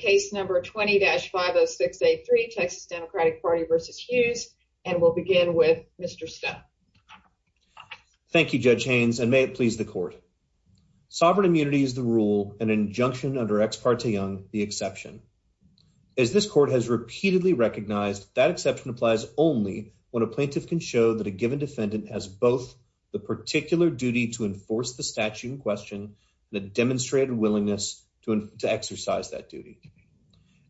Thank you Judge Haynes and may it please the court. Sovereign immunity is the rule, an injunction under Ex parte Young, the exception. As this court has repeatedly recognized, that exception applies only when a plaintiff can show that a given defendant has both the particular duty to enforce the statute in question and a demonstrated willingness to exercise that duty.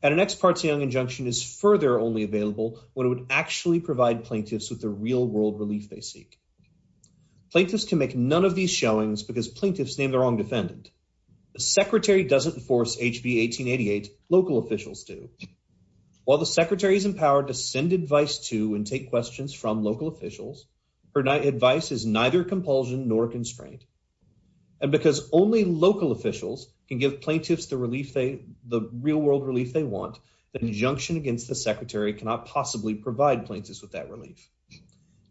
And an Ex parte Young injunction is further only available when it would actually provide plaintiffs with the real world relief they seek. Plaintiffs can make none of these showings because plaintiffs name the wrong defendant. The secretary doesn't enforce HB 1888, local officials do. While the secretary is empowered to send advice to and take questions from local officials, her advice is neither compulsion nor constraint. And because only local officials can give plaintiffs the real world relief they want, the injunction against the secretary cannot possibly provide plaintiffs with that relief.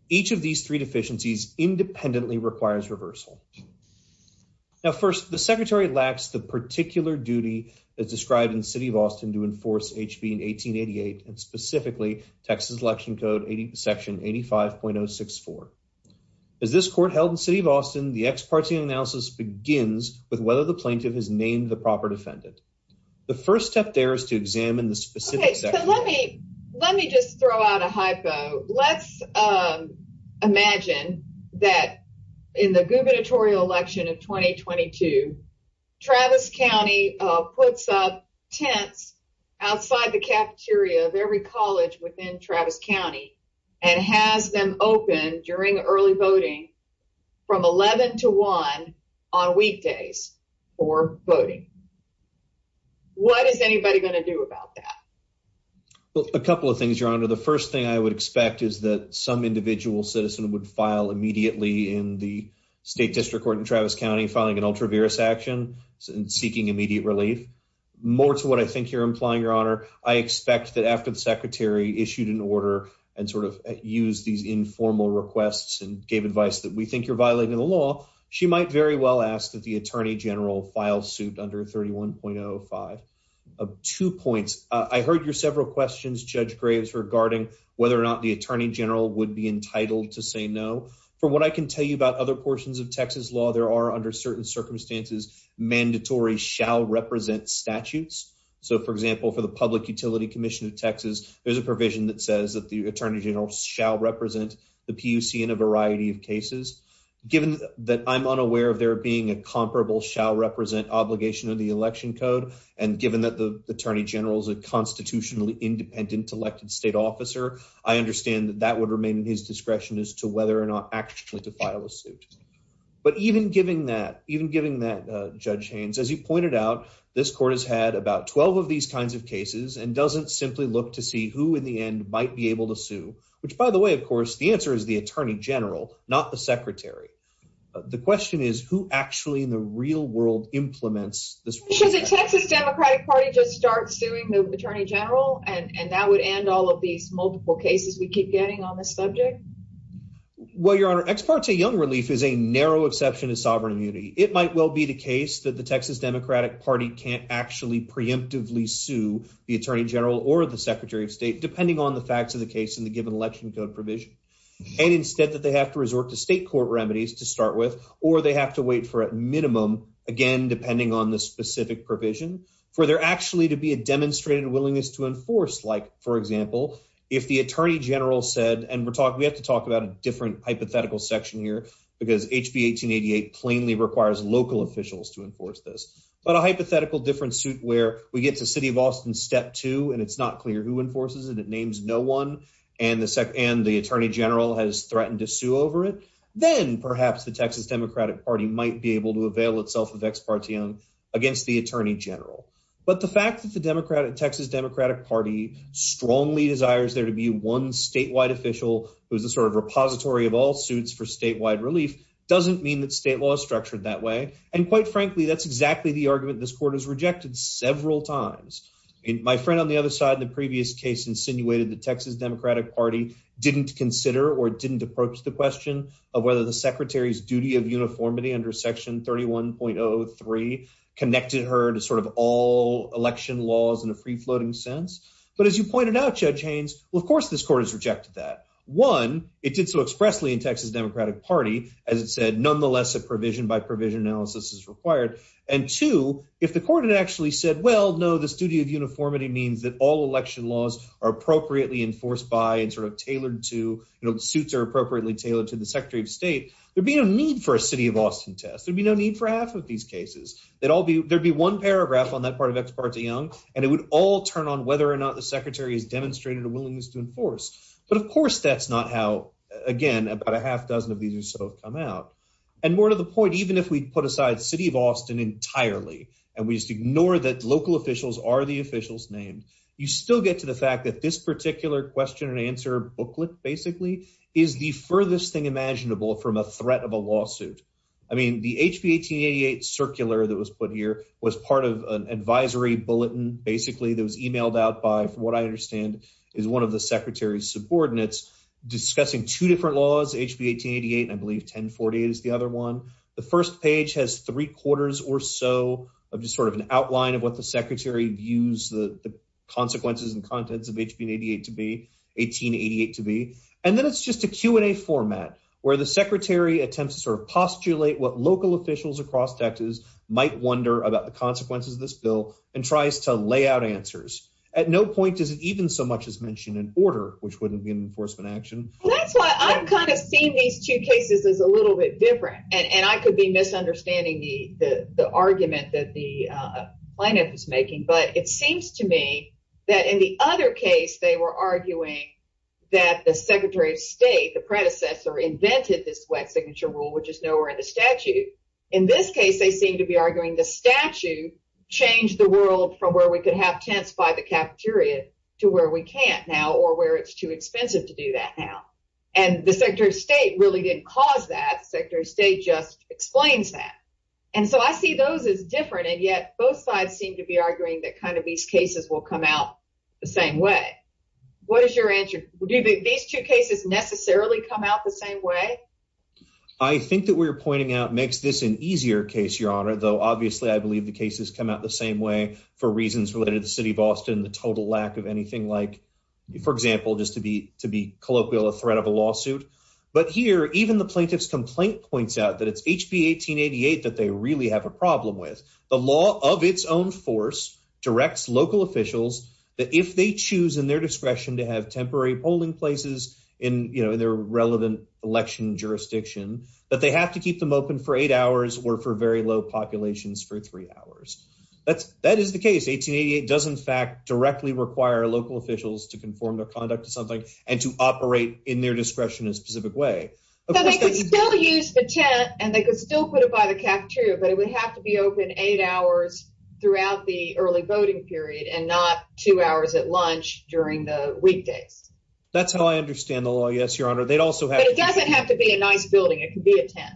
Each of these three deficiencies independently requires reversal. Now first, the secretary lacks the particular duty that's described in the City of Austin to enforce HB 1888 and specifically Texas Election Code Section 85.064. As this court held in the City of Austin, the Ex parte Young analysis begins with whether the plaintiff has named the proper defendant. The first step there is to examine the specifics. Let me just throw out a hypo. Let's imagine that in the gubernatorial election of 2022, Travis County puts up tents outside the cafeteria of every college within Travis County and has them open during early voting from 11 to 1 on weekdays for voting. What is anybody going to do about that? Well, a couple of things, Your Honor. The first thing I would expect is that some individual citizen would file immediately in the state district court in Travis County, filing an ultra-virus action and seeking immediate relief. More to what I think you're implying, Your Honor. I expect that after the secretary issued an order and sort of used these informal requests and gave advice that we think you're violating the law, she might very well ask that the Attorney General file suit under 31.05. Two points. I heard your several questions, Judge Graves, regarding whether or not the Attorney General would be entitled to say no. From what I can tell you about other portions of Texas law, there are under certain circumstances mandatory shall represent statutes. So, for example, for the Public Utility Commission of Texas, there's a provision that says that the Attorney General shall represent the PUC in a variety of cases. Given that I'm unaware of there being a comparable shall represent obligation of the election code, and given that the Attorney General is a constitutionally independent elected state officer, I understand that that would remain in his discretion as to whether or not actually to file a suit. But even given that, Judge Haynes, as you pointed out, this court has had about 12 of these kinds of cases and doesn't simply look to see who in the end might be able to sue. Which, by the way, of course, the answer is the Attorney General, not the secretary. The question is who actually in the real world implements this rule. Should the Texas Democratic Party just start suing the Attorney General and that would end all of these multiple cases we keep getting on this subject? Well, Your Honor, Ex parte Young Relief is a narrow exception to sovereign immunity. It might well be the case that the Texas Democratic Party can't actually preemptively sue the Attorney General or the Secretary of State, depending on the facts of the case in the given election code provision. And instead that they have to resort to state court remedies to start with, or they have to wait for at minimum, again, depending on the specific provision, for there actually to be a demonstrated willingness to enforce. Like, for example, if the Attorney General said, and we're talking, we have to talk about a different hypothetical section here, because HB 1888 plainly requires local officials to enforce this. But a hypothetical different suit where we get to City of Austin step two, and it's not clear who enforces it, it names no one, and the Attorney General has threatened to sue over it. Then perhaps the Texas Democratic Party might be able to avail itself of ex parte Young against the Attorney General. But the fact that the Texas Democratic Party strongly desires there to be one statewide official, who's the sort of repository of all suits for statewide relief, doesn't mean that state law is structured that way. And quite frankly, that's exactly the argument this court has rejected several times. My friend on the other side in the previous case insinuated the Texas Democratic Party didn't consider or didn't approach the question of whether the secretary's duty of uniformity under section 31.03 connected her to sort of all election laws in a free floating sense. But as you pointed out, Judge Haynes, well, of course, this court has rejected that. One, it did so expressly in Texas Democratic Party, as it said, nonetheless, a provision by provision analysis is required. And two, if the court had actually said, well, no, this duty of uniformity means that all election laws are appropriately enforced by and sort of tailored to, you know, the suits are appropriately tailored to the Secretary of State, there'd be no need for a city of Austin test. There'd be no need for half of these cases. There'd be one paragraph on that part of ex parte Young, and it would all turn on whether or not the secretary has demonstrated a willingness to enforce. But of course, that's not how, again, about a half dozen of these or so have come out. And more to the point, even if we put aside city of Austin entirely, and we just ignore that local officials are the officials named, you still get to the fact that this particular question and answer booklet basically is the furthest thing imaginable from a threat of a lawsuit. I mean, the HB 1888 circular that was put here was part of an advisory bulletin basically that was emailed out by what I understand is one of the secretary's subordinates discussing two different laws, HB 1888, and I believe 1040 is the other one. The first page has three quarters or so of just sort of an outline of what the secretary views the consequences and contents of HB 1888 to be. And then it's just a Q&A format where the secretary attempts to sort of postulate what local officials across Texas might wonder about the consequences of this bill and tries to lay out answers. At no point does it even so much as mention an order, which wouldn't be an enforcement action. That's why I'm kind of seeing these two cases as a little bit different. And I could be misunderstanding the argument that the plaintiff is making. But it seems to me that in the other case, they were arguing that the secretary of state, the predecessor, invented this wet signature rule, which is nowhere in the statute. In this case, they seem to be arguing the statute changed the world from where we could have tents by the cafeteria to where we can't now or where it's too expensive to do that now. And the secretary of state really didn't cause that. Secretary of state just explains that. And so I see those as different. And yet both sides seem to be arguing that kind of these cases will come out the same way. What is your answer? Do these two cases necessarily come out the same way? I think that we're pointing out makes this an easier case, Your Honor, though, obviously, I believe the cases come out the same way for reasons related to the city of Austin, the total lack of anything like, for example, just to be to be colloquial, a threat of a lawsuit. But here, even the plaintiff's complaint points out that it's HB 1888 that they really have a problem with. The law of its own force directs local officials that if they choose in their discretion to have temporary polling places in their relevant election jurisdiction, that they have to keep them open for eight hours or for very low populations for three hours. That's that is the case. 1888 does, in fact, directly require local officials to conform their conduct to something and to operate in their discretion in a specific way. So they could still use the tent and they could still put it by the cafeteria, but it would have to be open eight hours throughout the early voting period and not two hours at lunch during the weekdays. That's how I understand the law. Yes, Your Honor. They'd also have it doesn't have to be a nice building. It could be a tent.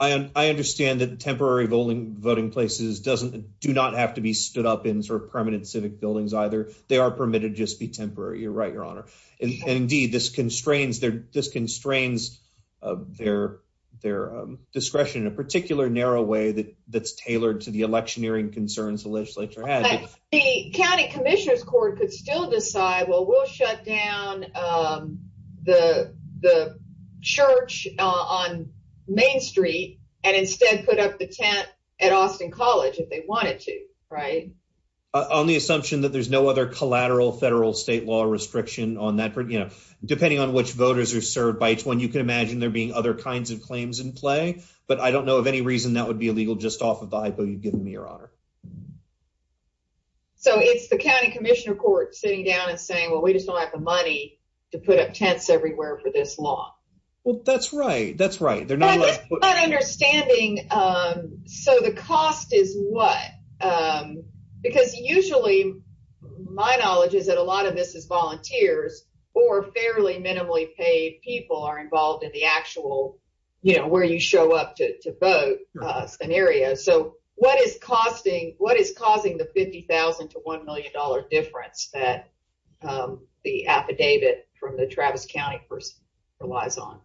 I understand that temporary voting voting places doesn't do not have to be stood up in sort of permanent civic buildings either. They are permitted just be temporary. You're right, Your Honor. Indeed, this constrains their this constrains their their discretion in a particular narrow way that that's tailored to the electioneering concerns the legislature had. The county commissioner's court could still decide, well, we'll shut down the the church on Main Street and instead put up the tent at Austin College if they wanted to. Right. On the assumption that there's no other collateral federal state law restriction on that, you know, depending on which voters are served by when you can imagine there being other kinds of claims in play. But I don't know of any reason that would be illegal just off of the hypo you've given me, Your Honor. So it's the county commissioner court sitting down and saying, well, we just don't have the money to put up tents everywhere for this law. Well, that's right. That's right. They're not understanding. So the cost is what? Because usually my knowledge is that a lot of this is volunteers or fairly minimally paid people are involved in the actual, you know, where you show up to vote an area. So what is costing what is causing the fifty thousand to one million dollar difference that the affidavit from the Travis County person relies on?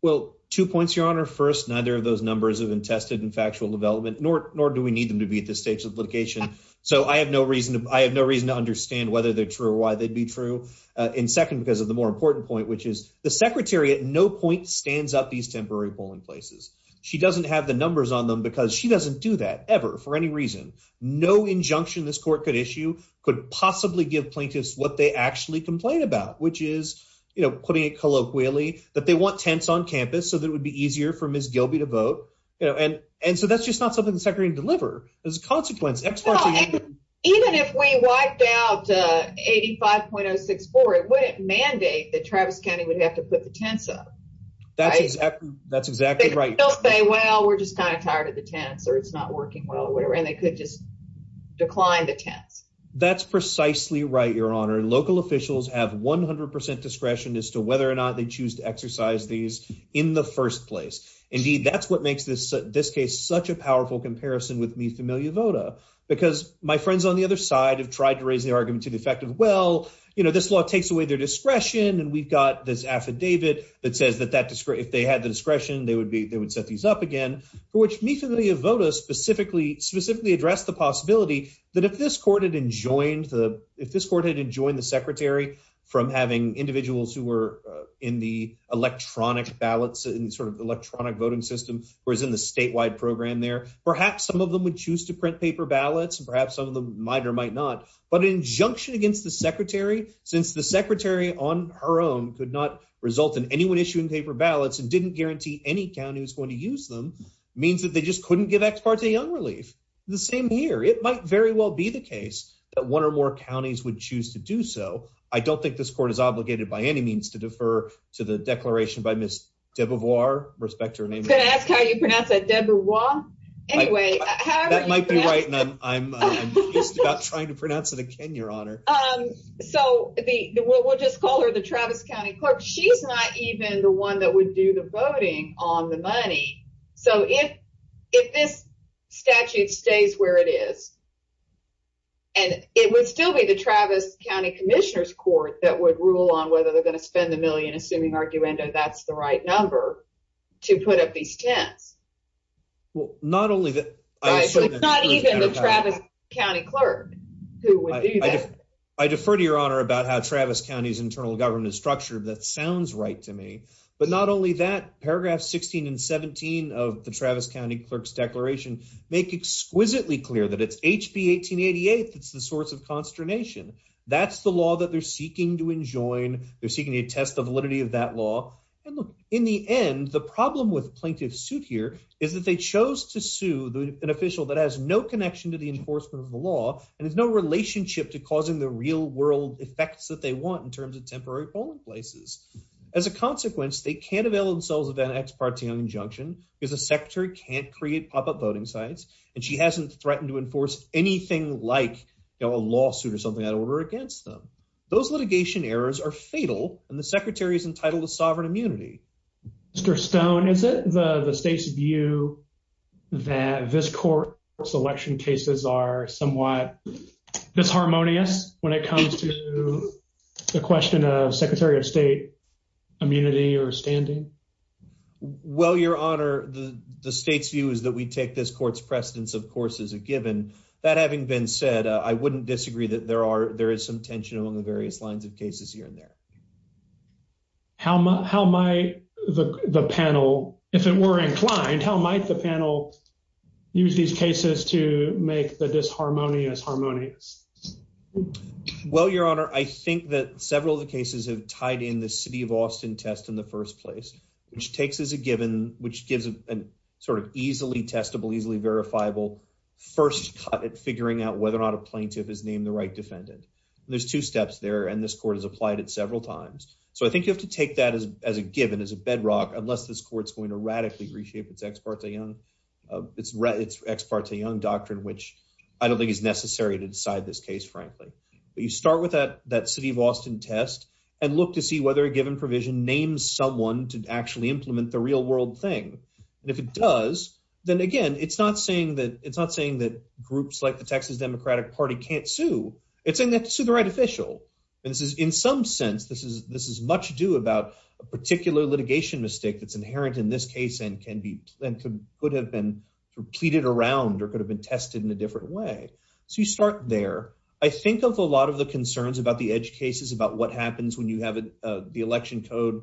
Well, two points, Your Honor. First, neither of those numbers have been tested in factual development, nor nor do we need them to be at this stage of litigation. So I have no reason I have no reason to understand whether they're true or why they'd be true. And second, because of the more important point, which is the secretary at no point stands up these temporary polling places. She doesn't have the numbers on them because she doesn't do that ever for any reason. No injunction this court could issue could possibly give plaintiffs what they actually complain about, which is, you know, putting it colloquially that they want tents on campus so that would be easier for Miss Gilby to vote. And and so that's just not something the secretary deliver as a consequence. Even if we wiped out eighty five point six four, it wouldn't mandate that Travis County would have to put the tents up. That's exactly that's exactly right. They'll say, well, we're just kind of tired of the tents or it's not working well, whatever. And they could just decline the tents. That's precisely right, Your Honor. Local officials have one hundred percent discretion as to whether or not they choose to exercise these in the first place. Indeed, that's what makes this this case such a powerful comparison with me familiar Voda, because my friends on the other side have tried to raise the argument to the effect of, well, you know, this law takes away their discretion. And we've got this affidavit that says that that if they had the discretion, they would be they would set these up again, for which me to the voters specifically specifically address the possibility that if this court had enjoined the if this court had enjoyed the secretary from having individuals who were in the electronic ballots and sort of electronic voting system was in the statewide program there, perhaps some of them would choose to print paper ballots. And perhaps some of them might or might not. But an injunction against the secretary, since the secretary on her own could not result in anyone issuing paper ballots and didn't guarantee any county was going to use them means that they just couldn't give ex parte young relief the same year. It might very well be the case that one or more counties would choose to do so. I don't think this court is obligated by any means to defer to the declaration by Miss Deborah, respect her name. Can I ask how you pronounce that? Deborah? Anyway, that might be right. And I'm just about trying to pronounce it again, Your Honor. So we'll just call her the Travis County Court. She's not even the one that would do the voting on the money. So if if this statute stays where it is. And it would still be the Travis County Commissioner's Court that would rule on whether they're going to spend a million, assuming argument that that's the right number to put up these tents. Well, not only that, not even the Travis County clerk. I defer to Your Honor about how Travis County's internal government is structured. That sounds right to me. But not only that, paragraph 16 and 17 of the Travis County clerk's declaration make exquisitely clear that it's HB 1888. It's the source of consternation. That's the law that they're seeking to enjoin. They're seeking to test the validity of that law. In the end, the problem with plaintiff's suit here is that they chose to sue an official that has no connection to the enforcement of the law and has no relationship to causing the real world effects that they want in terms of temporary polling places. As a consequence, they can't avail themselves of an ex parte injunction because the secretary can't create pop-up voting sites and she hasn't threatened to enforce anything like a lawsuit or something out of order against them. Those litigation errors are fatal and the secretary is entitled to sovereign immunity. Mr. Stone, is it the state's view that this court's election cases are somewhat disharmonious when it comes to the question of Secretary of State immunity or standing? Well, Your Honor, the state's view is that we take this court's precedence of course as a given. That having been said, I wouldn't disagree that there is some tension among the various lines of cases here and there. How might the panel, if it were inclined, how might the panel use these cases to make the disharmony as harmonious? Well, Your Honor, I think that several of the cases have tied in the city of Austin test in the first place, which takes as a given, which gives an easily testable, easily verifiable first cut at figuring out whether or not a plaintiff is named the right defendant. There's two steps there and this court has applied it several times. So I think you have to take that as a given, as a bedrock, unless this court's going to radically reshape its ex parte young doctrine, which I don't think is necessary to decide this case, frankly. But you start with that city of Austin test and look to see whether a given provision names someone to actually implement the real world thing. And if it does, then again, it's not saying that groups like the Texas Democratic Party can't sue, it's saying they have to sue the right official. And this is in some sense, this is much ado about a particular litigation mistake that's inherent in this case and could have been pleaded around or could have been tested in a different way. So you start there. I think of a lot of the concerns about the edge cases about what happens when you have the election code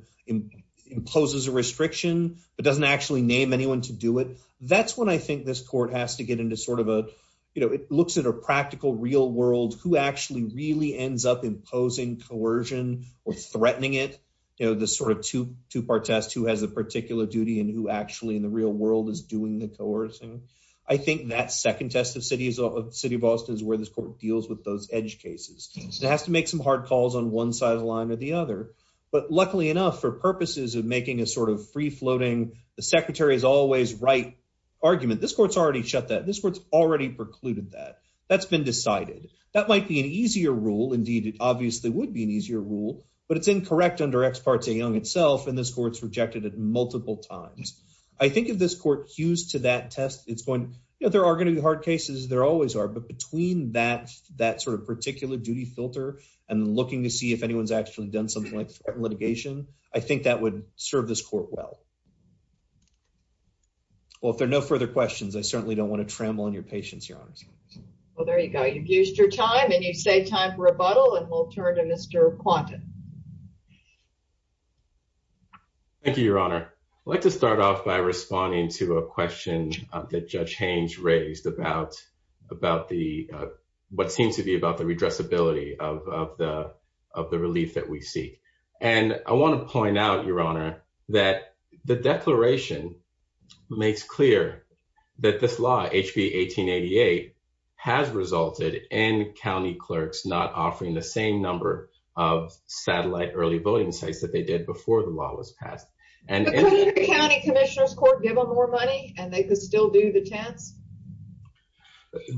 imposes a restriction, but doesn't actually name anyone to do it. That's when I think this court has to get into sort of a, you know, it looks at a practical real world who actually really ends up imposing coercion or threatening it. You know, the sort of two part test who has a particular duty and who actually in the real world is doing the coercing. I think that second test of city of Austin is where this court deals with those edge cases. It has to make some hard calls on one side of the line or the other. But luckily enough, for purposes of making a sort of free floating, the secretary is always right argument. This court's already shut that this court's already precluded that that's been decided that might be an easier rule. Indeed, it obviously would be an easier rule, but it's incorrect under experts a young itself and this court's rejected it multiple times. I think of this court used to that test, it's going, you know, there are going to be hard cases there always are but between that, that sort of particular duty filter and looking to see if anyone's actually done something like litigation. I think that would serve this court well. Well, if there are no further questions, I certainly don't want to tremble on your patience, your honor. Well, there you go. You've used your time and you say time for a bottle and we'll turn to Mr. Quentin. Thank you, your honor, like to start off by responding to a question that Judge Haynes raised about about the what seems to be about the redress ability of the of the relief that we seek. And I want to point out, your honor, that the declaration makes clear that this law, HB 1888 has resulted in county clerks not offering the same number of satellite early voting sites that they did before the law was passed and county commissioners court given more money and they could still do the chance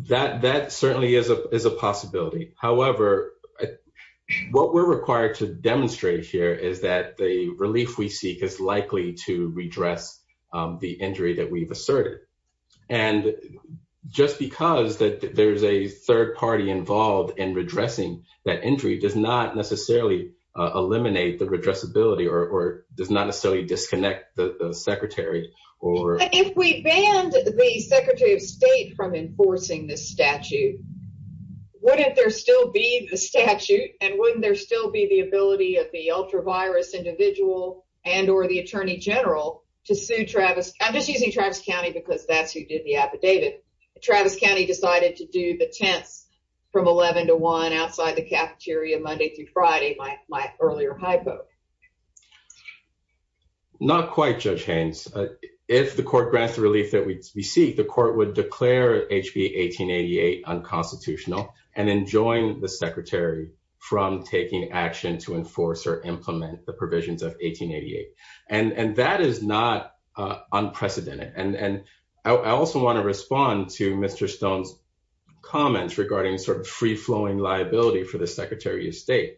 that that certainly is a possibility. However, what we're required to demonstrate here is that the relief we seek is likely to redress the injury that we've asserted. And just because that there's a third party involved in redressing that injury does not necessarily eliminate the redress ability or does not necessarily disconnect the secretary or if we banned the secretary of state from enforcing this statute. Wouldn't there still be the statute and wouldn't there still be the ability of the ultra virus individual and or the attorney general to sue Travis? I'm just using Travis County because that's who did the affidavit. Travis County decided to do the tense from 11 to 1 outside the cafeteria Monday through Friday. My earlier hypo. Not quite, Judge Haynes. If the court grants the relief that we seek, the court would declare HB 1888 unconstitutional and then join the secretary from taking action to enforce or implement the provisions of 1888. And that is not unprecedented. And I also want to respond to Mr. Stone's comments regarding sort of free flowing liability for the secretary of state.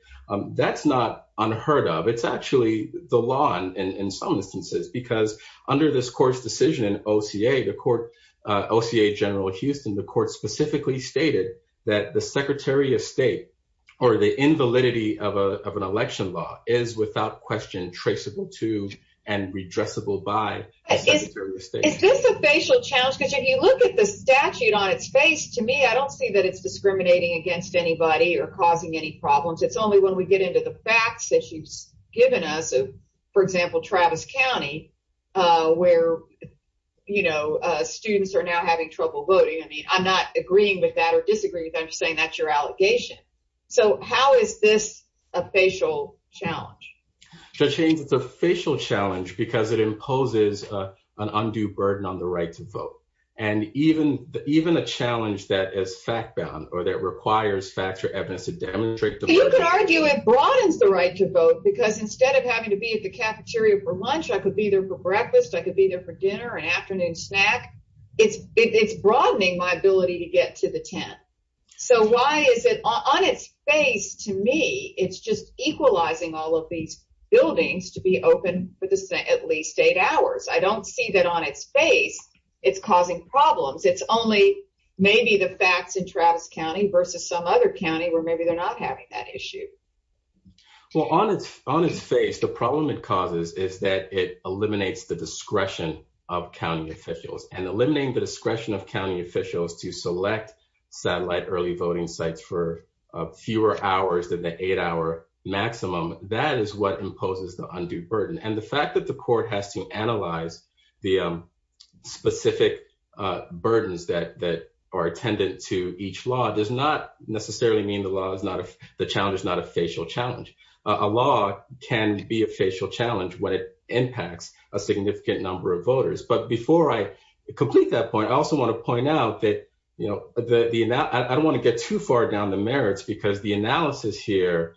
That's not unheard of. It's actually the law. And in some instances, because under this court's decision, OCA, the court OCA General Houston, the court specifically stated that the secretary of state or the invalidity of an election law is without question traceable to and redressable by. Is this a facial challenge? Because if you look at the statute on its face to me, I don't see that it's discriminating against anybody or causing any problems. It's only when we get into the facts that she's given us. For example, Travis County, where, you know, students are now having trouble voting. I mean, I'm not agreeing with that or disagree with them saying that's your allegation. So how is this a facial challenge? Judge Haynes, it's a facial challenge because it imposes an undue burden on the right to vote. And even even a challenge that is fact bound or that requires facts or evidence to demonstrate. You could argue it broadens the right to vote because instead of having to be at the cafeteria for lunch, I could be there for breakfast. I could be there for dinner and afternoon snack. It's broadening my ability to get to the tent. So why is it on its face to me? It's just equalizing all of these buildings to be open for at least eight hours. I don't see that on its face. It's causing problems. It's only maybe the facts in Travis County versus some other county where maybe they're not having that issue. Well, on its on its face, the problem it causes is that it eliminates the discretion of county officials and eliminating the discretion of county officials to select satellite early voting sites for fewer hours than the eight hour maximum. That is what imposes the undue burden. And the fact that the court has to analyze the specific burdens that that are attendant to each law does not necessarily mean the law is not the challenge is not a facial challenge. A law can be a facial challenge when it impacts a significant number of voters. But before I complete that point, I also want to point out that, you know, I don't want to get too far down the merits because the analysis here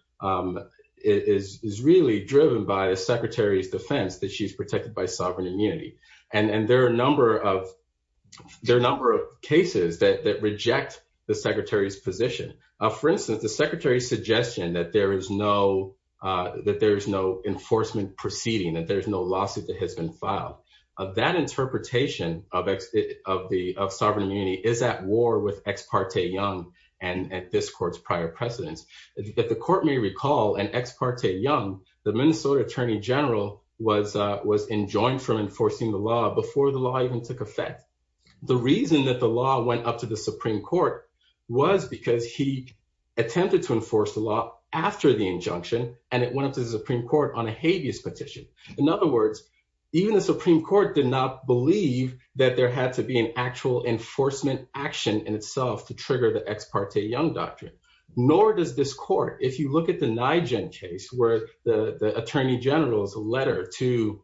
is really driven by the secretary's defense that she's protected by sovereign immunity. And there are a number of there are a number of cases that reject the secretary's position. For instance, the secretary's suggestion that there is no that there is no enforcement proceeding, that there is no lawsuit that has been filed. Of that interpretation of of the of sovereign immunity is at war with ex parte young and at this court's prior precedents, that the court may recall and ex parte young, the Minnesota attorney general was was enjoined from enforcing the law before the law even took effect. The reason that the law went up to the Supreme Court was because he attempted to enforce the law after the injunction, and it went up to the Supreme Court on a habeas petition. In other words, even the Supreme Court did not believe that there had to be an actual enforcement action in itself to trigger the ex parte young doctrine. Nor does this court, if you look at the case where the attorney general's letter to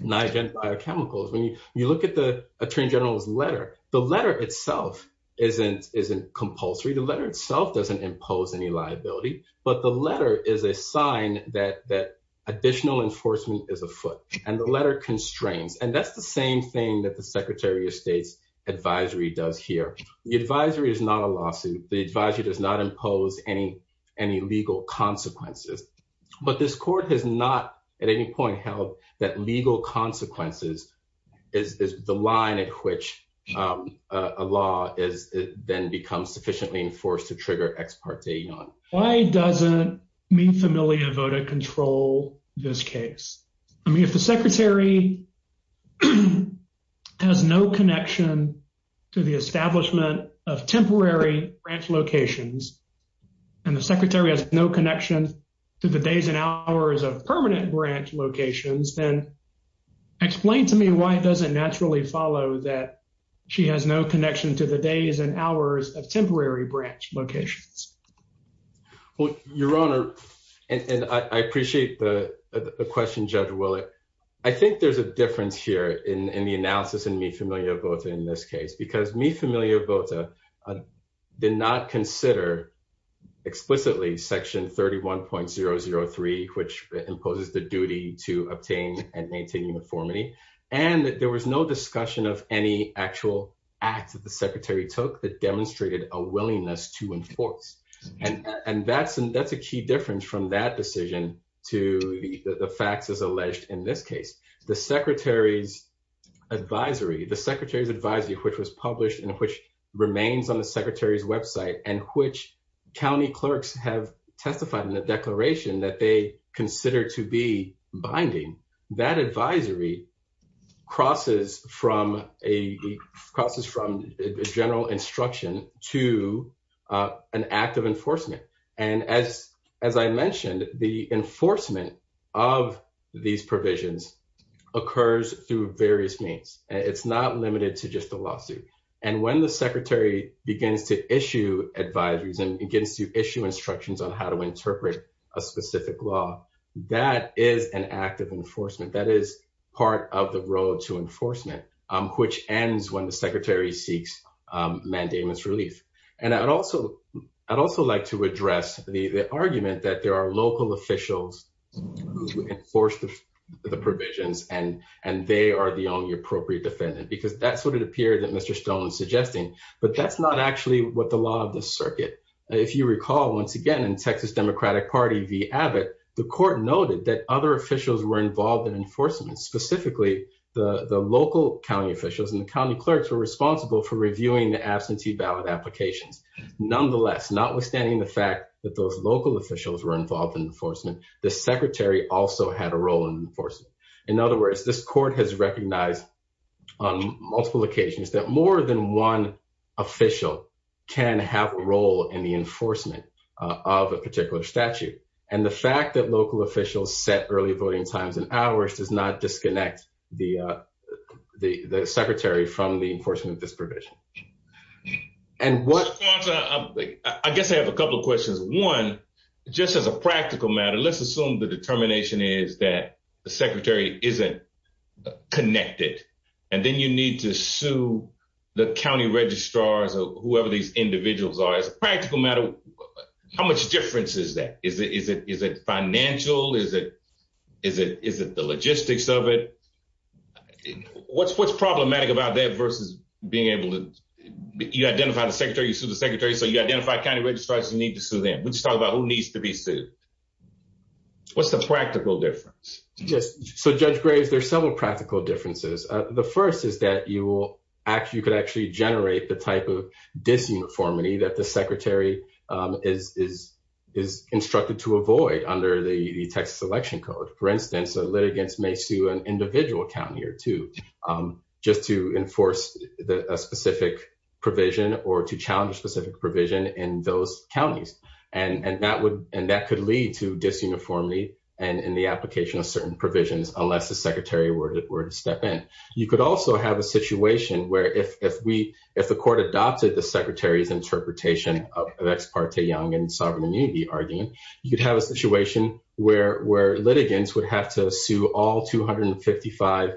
my biochemicals, when you look at the attorney general's letter, the letter itself isn't isn't compulsory. The letter itself doesn't impose any liability, but the letter is a sign that that additional enforcement is afoot and the letter constraints. And that's the same thing that the secretary of state's advisory does here. The advisory is not a lawsuit. The advisory does not impose any any legal consequences. But this court has not at any point held that legal consequences is the line at which a law is then becomes sufficiently enforced to trigger ex parte. Why doesn't me familiar voted control this case? I mean, if the secretary has no connection to the establishment of temporary branch locations, and the secretary has no connection to the days and hours of permanent branch locations, then. Explain to me why it doesn't naturally follow that she has no connection to the days and hours of temporary branch locations. Well, Your Honor, and I appreciate the question, Judge Willett. I think there's a difference here in the analysis and me familiar both in this case because me familiar both did not consider explicitly section 31.003, which imposes the duty to obtain and maintain uniformity. And that there was no discussion of any actual act that the secretary took that demonstrated a willingness to enforce. And that's a key difference from that decision to the facts as alleged in this case, the secretary's advisory, the secretary's advisory, which was published and which remains on the secretary's website. And which county clerks have testified in the declaration that they consider to be binding that advisory crosses from a process from general instruction to an act of enforcement. And as I mentioned, the enforcement of these provisions occurs through various means. It's not limited to just the lawsuit. And when the secretary begins to issue advisories and begins to issue instructions on how to interpret a specific law, that is an act of enforcement. That is part of the road to enforcement, which ends when the secretary seeks mandamus relief. And I'd also like to address the argument that there are local officials who enforce the provisions and they are the only appropriate defendant because that's what it appeared that Mr. Stone was suggesting. But that's not actually what the law of the circuit. If you recall, once again, in Texas Democratic Party v. Abbott, the court noted that other officials were involved in enforcement, specifically the local county officials and the county clerks were responsible for reviewing the absentee ballot applications. Nonetheless, notwithstanding the fact that those local officials were involved in enforcement, the secretary also had a role in enforcement. In other words, this court has recognized on multiple occasions that more than one official can have a role in the enforcement of a particular statute. And the fact that local officials set early voting times and hours does not disconnect the secretary from the enforcement of this provision. And what I guess I have a couple of questions. One, just as a practical matter, let's assume the determination is that the secretary isn't connected and then you need to sue the county registrars or whoever these individuals are. As a practical matter, how much difference is that? Is it financial? Is it the logistics of it? What's problematic about that versus being able to identify the secretary, sue the secretary, so you identify county registrars who need to sue them. Let's talk about who needs to be sued. What's the practical difference? So Judge Graves, there's several practical differences. The first is that you could actually generate the type of disuniformity that the secretary is instructed to avoid under the Texas Election Code. For instance, a litigant may sue an individual county or two just to enforce a specific provision or to challenge a specific provision in those counties. And that could lead to disuniformity in the application of certain provisions unless the secretary were to step in. You could also have a situation where if the court adopted the secretary's interpretation of Ex parte Young and sovereign immunity argument, you'd have a situation where litigants would have to sue all 255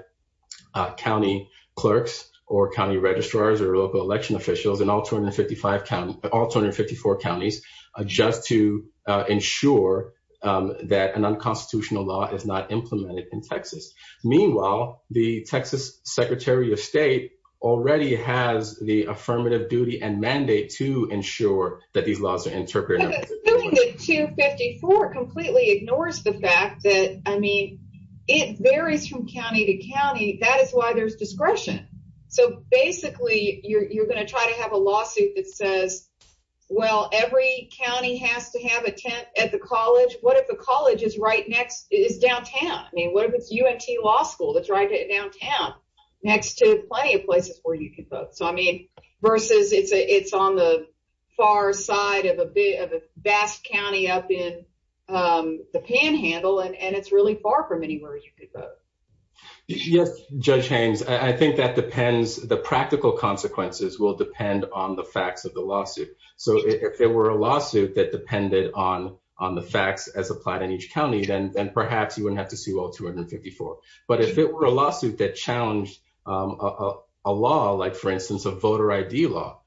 county clerks or county registrars or local election officials in all 254 counties just to ensure that an unconstitutional law is not implemented in Texas. Meanwhile, the Texas Secretary of State already has the affirmative duty and mandate to ensure that these laws are interpreted. 254 completely ignores the fact that, I mean, it varies from county to county. That is why there's discretion. So, basically, you're going to try to have a lawsuit that says, well, every county has to have a tent at the college. What if the college is downtown? I mean, what if it's UNT Law School that's right downtown next to plenty of places where you can vote? So, I mean, versus it's on the far side of a vast county up in the panhandle, and it's really far from anywhere you could vote. Yes, Judge Haynes. I think that depends. The practical consequences will depend on the facts of the lawsuit. So, if there were a lawsuit that depended on the facts as applied in each county, then perhaps you wouldn't have to sue all 254. But if it were a lawsuit that challenged a law, like, for instance, a voter ID law,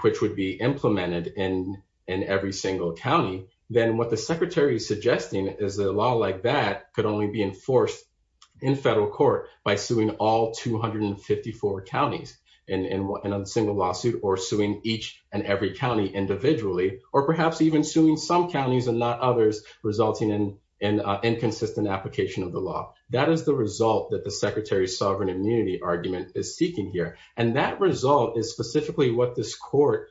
which would be implemented in every single county, then what the Secretary is suggesting is that a law like that could only be enforced in federal court by suing all 254 counties in a single lawsuit, or suing each and every county individually, or perhaps even suing some counties and not others, resulting in an inconsistent application of the law. What is the result that the Secretary's sovereign immunity argument is seeking here? And that result is specifically what this court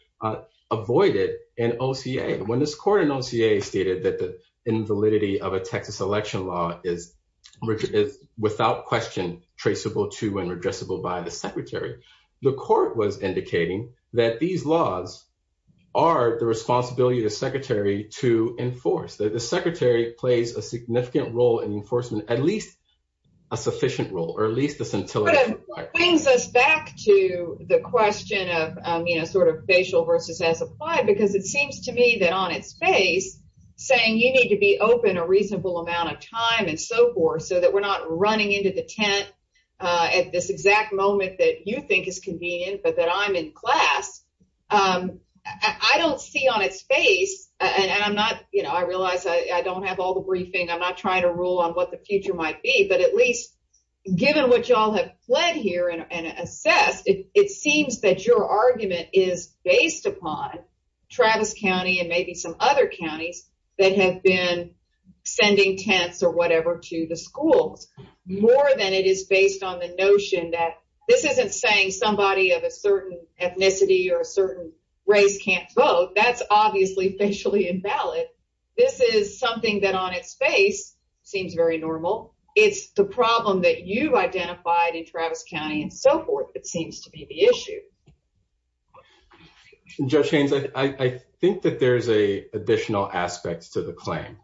avoided in OCA. When this court in OCA stated that the invalidity of a Texas election law is without question traceable to and redressable by the Secretary, the court was indicating that these laws are the responsibility of the Secretary to enforce. The Secretary plays a significant role in enforcement, at least a sufficient role, or at least the scintillation part. That brings us back to the question of, you know, sort of facial versus as applied, because it seems to me that on its face, saying you need to be open a reasonable amount of time and so forth, so that we're not running into the tent at this exact moment that you think is convenient, but that I'm in class. I don't see on its face, and I'm not, you know, I realize I don't have all the briefing. I'm not trying to rule on what the future might be, but at least given what y'all have fled here and assessed, it seems that your argument is based upon Travis County and maybe some other counties that have been sending tents or whatever to the schools. More than it is based on the notion that this isn't saying somebody of a certain ethnicity or a certain race can't vote. That's obviously facially invalid. This is something that on its face seems very normal. It's the problem that you've identified in Travis County and so forth. It seems to be the issue. Judge Haynes, I think that there's an additional aspect to the claim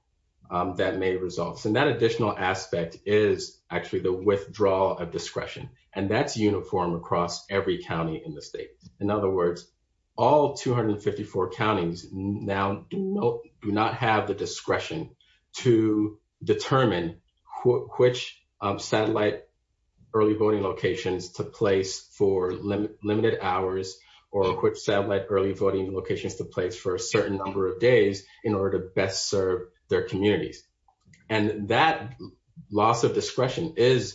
that may resolve. So that additional aspect is actually the withdrawal of discretion, and that's uniform across every county in the state. In other words, all 254 counties now do not have the discretion to determine which satellite early voting locations to place for limited hours or which satellite early voting locations to place for a certain number of days in order to best serve their communities. And that loss of discretion is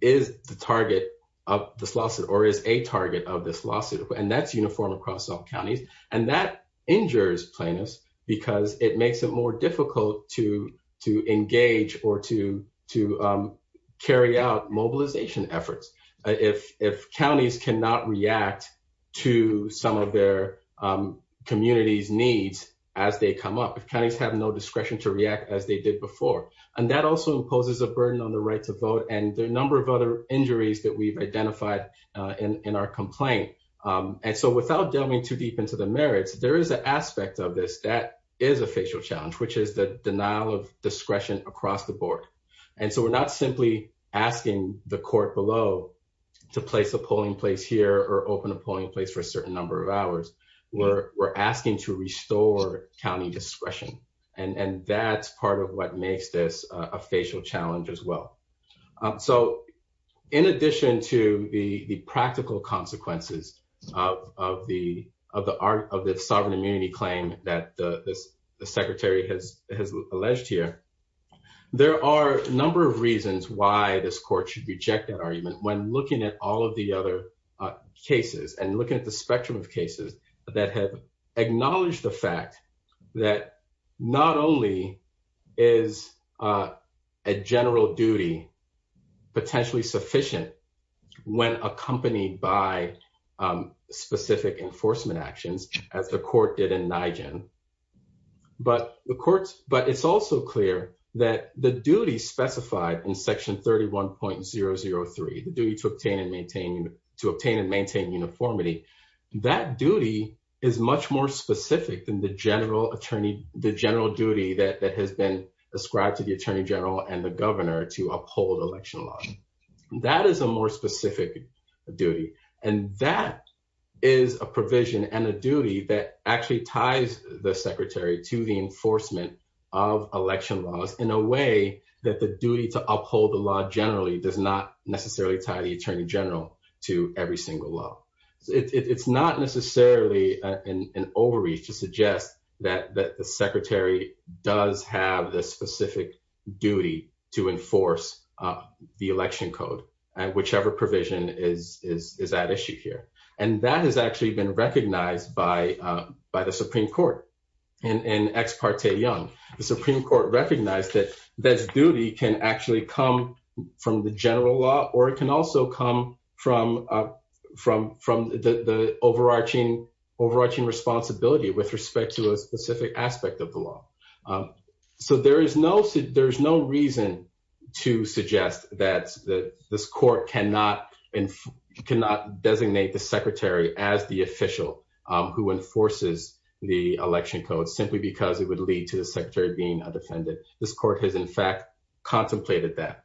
the target of this lawsuit or is a target of this lawsuit, and that's uniform across all counties. And that injures plaintiffs because it makes it more difficult to engage or to carry out mobilization efforts. If counties cannot react to some of their communities' needs as they come up, if counties have no discretion to react as they did before. And that also imposes a burden on the right to vote and the number of other injuries that we've identified in our complaint. And so without delving too deep into the merits, there is an aspect of this that is a facial challenge, which is the denial of discretion across the board. And so we're not simply asking the court below to place a polling place here or open a polling place for a certain number of hours. We're asking to restore county discretion. And that's part of what makes this a facial challenge as well. So in addition to the practical consequences of the sovereign immunity claim that the secretary has alleged here, there are a number of reasons why this court should reject that argument when looking at all of the other cases and looking at the spectrum of cases. There are a number of reasons that have acknowledged the fact that not only is a general duty potentially sufficient when accompanied by specific enforcement actions, as the court did in Nyugen, but it's also clear that the duty specified in Section 31.003, the duty to obtain and maintain uniformity. That duty is much more specific than the general duty that has been ascribed to the attorney general and the governor to uphold election laws. That is a more specific duty. And that is a provision and a duty that actually ties the secretary to the enforcement of election laws in a way that the duty to uphold the law generally does not necessarily tie the attorney general to every single law. It's not necessarily an overreach to suggest that the secretary does have the specific duty to enforce the election code and whichever provision is at issue here. And that has actually been recognized by the Supreme Court in Ex Parte Young. The Supreme Court recognized that this duty can actually come from the general law or it can also come from the overarching responsibility with respect to a specific aspect of the law. So there is no reason to suggest that this court cannot designate the secretary as the official who enforces the election code simply because it would lead to the secretary being a defendant. And so I think it's important to recognize that this court has, in fact, contemplated that. I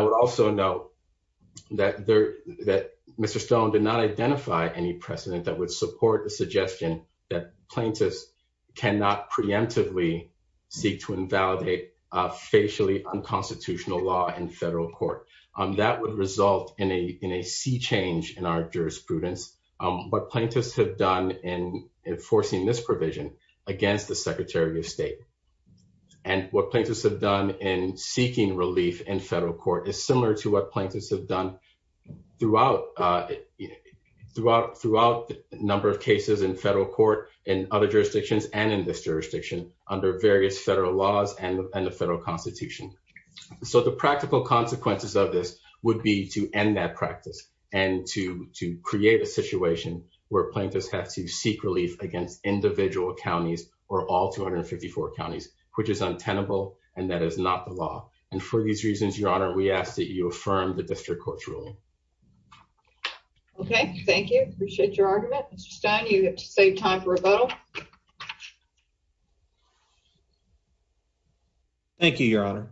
would also note that Mr. Stone did not identify any precedent that would support the suggestion that plaintiffs cannot preemptively seek to invalidate a facially unconstitutional law in federal court. That would result in a sea change in our jurisprudence. What plaintiffs have done in enforcing this provision against the secretary of state and what plaintiffs have done in seeking relief in federal court is similar to what plaintiffs have done throughout the number of cases in federal court in other jurisdictions and in this jurisdiction under various federal laws and the federal constitution. So the practical consequences of this would be to end that practice and to create a situation where plaintiffs have to seek relief against individual counties or all 254 counties, which is untenable, and that is not the law. And for these reasons, Your Honor, we ask that you affirm the district court's ruling. Okay, thank you. Appreciate your argument. Mr. Stone, you have to save time for rebuttal. Thank you, Your Honor.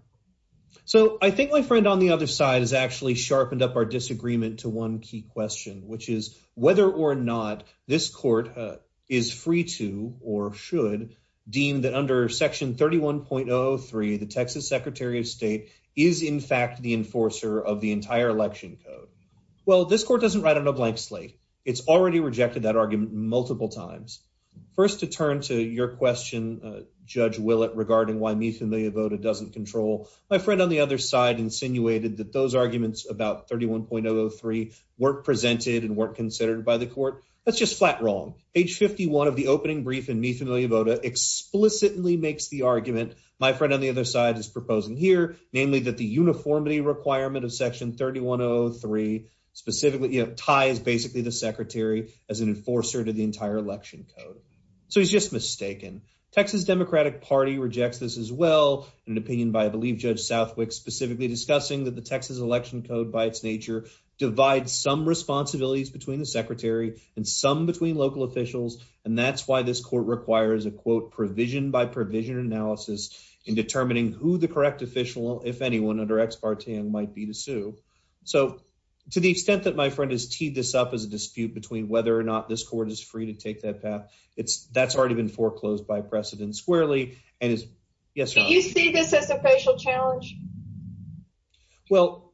So I think my friend on the other side has actually sharpened up our disagreement to one key question, which is whether or not this court is free to or should deem that under Section 31.03, the Texas Secretary of State is, in fact, the enforcer of the entire election code. Well, this court doesn't write a blank slate. It's already rejected that argument multiple times. First, to turn to your question, Judge Willett, regarding why MeFamiliaVota doesn't control, my friend on the other side insinuated that those arguments about 31.03 weren't presented and weren't considered by the court. That's just flat wrong. Page 51 of the opening brief in MeFamiliaVota explicitly makes the argument my friend on the other side is proposing here, namely that the uniformity requirement of Section 31.03 specifically ties basically the secretary as an enforcer to the entire election code. So he's just mistaken. Texas Democratic Party rejects this as well, in an opinion by, I believe, Judge Southwick, specifically discussing that the Texas election code by its nature divides some responsibilities between the secretary and some between local officials, and that's why this court requires a, quote, provision-by-provision analysis in determining who the correct official, if anyone, under ex parte might be to sue. So to the extent that my friend has teed this up as a dispute between whether or not this court is free to take that path, it's, that's already been foreclosed by precedent squarely and is, yes, Your Honor. Do you see this as a facial challenge? Well,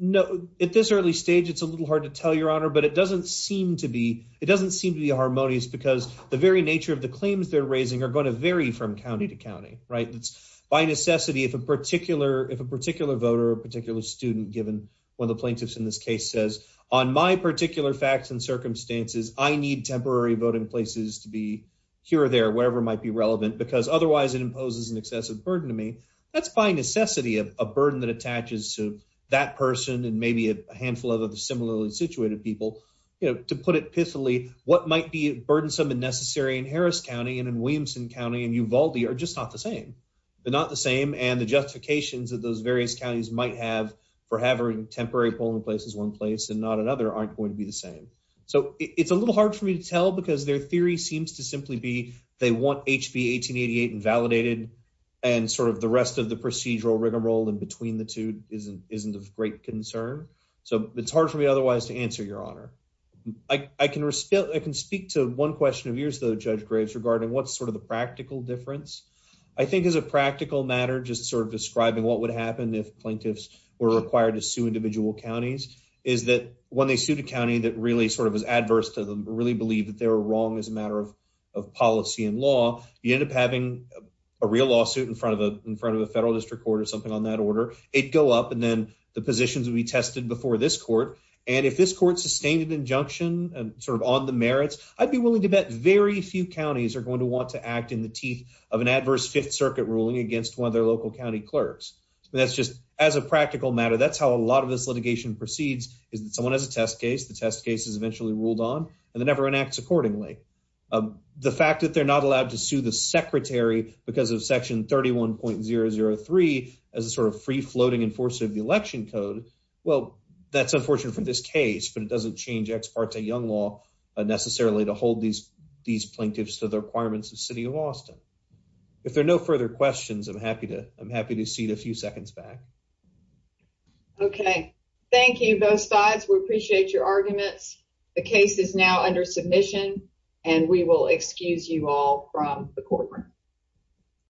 no, at this early stage, it's a little hard to tell, Your Honor, but it doesn't seem to be, it doesn't seem to be harmonious because the very nature of the claims they're raising are going to vary from county to county, right? It's, by necessity, if a particular, if a particular voter or a particular student, given one of the plaintiffs in this case, says, on my particular facts and circumstances, I need temporary voting places to be here or there, wherever it might be relevant, because otherwise it imposes an excessive burden to me. That's, by necessity, a burden that attaches to that person and maybe a handful of other similarly situated people. You know, to put it pithily, what might be burdensome and necessary in Harris County and in Williamson County and Uvalde are just not the same. They're not the same, and the justifications that those various counties might have for having temporary polling places in one place and not another aren't going to be the same. So, it's a little hard for me to tell because their theory seems to simply be they want HB 1888 invalidated and sort of the rest of the procedural rigmarole in between the two isn't of great concern. So, it's hard for me otherwise to answer, Your Honor. I can speak to one question of yours, though, Judge Graves, regarding what's sort of the practical difference. I think as a practical matter, just sort of describing what would happen if plaintiffs were required to sue individual counties, is that when they sued a county that really sort of was adverse to them, really believed that they were wrong as a matter of policy and law, you end up having a real lawsuit in front of a federal district court or something on that order. It'd go up and then the positions will be tested before this court, and if this court sustained an injunction and sort of on the merits, I'd be willing to bet very few counties are going to want to act in the teeth of an adverse Fifth Circuit ruling against one of their local county clerks. That's just as a practical matter, that's how a lot of this litigation proceeds is that someone has a test case, the test case is eventually ruled on, and then everyone acts accordingly. The fact that they're not allowed to sue the secretary because of Section 31.003 as a sort of free-floating enforcer of the election code, well, that's unfortunate for this case, but it doesn't change Ex Parte Young Law necessarily to hold these plaintiffs to the requirements of the City of Austin. If there are no further questions, I'm happy to cede a few seconds back. Okay, thank you both sides. We appreciate your arguments. The case is now under submission, and we will excuse you all from the courtroom.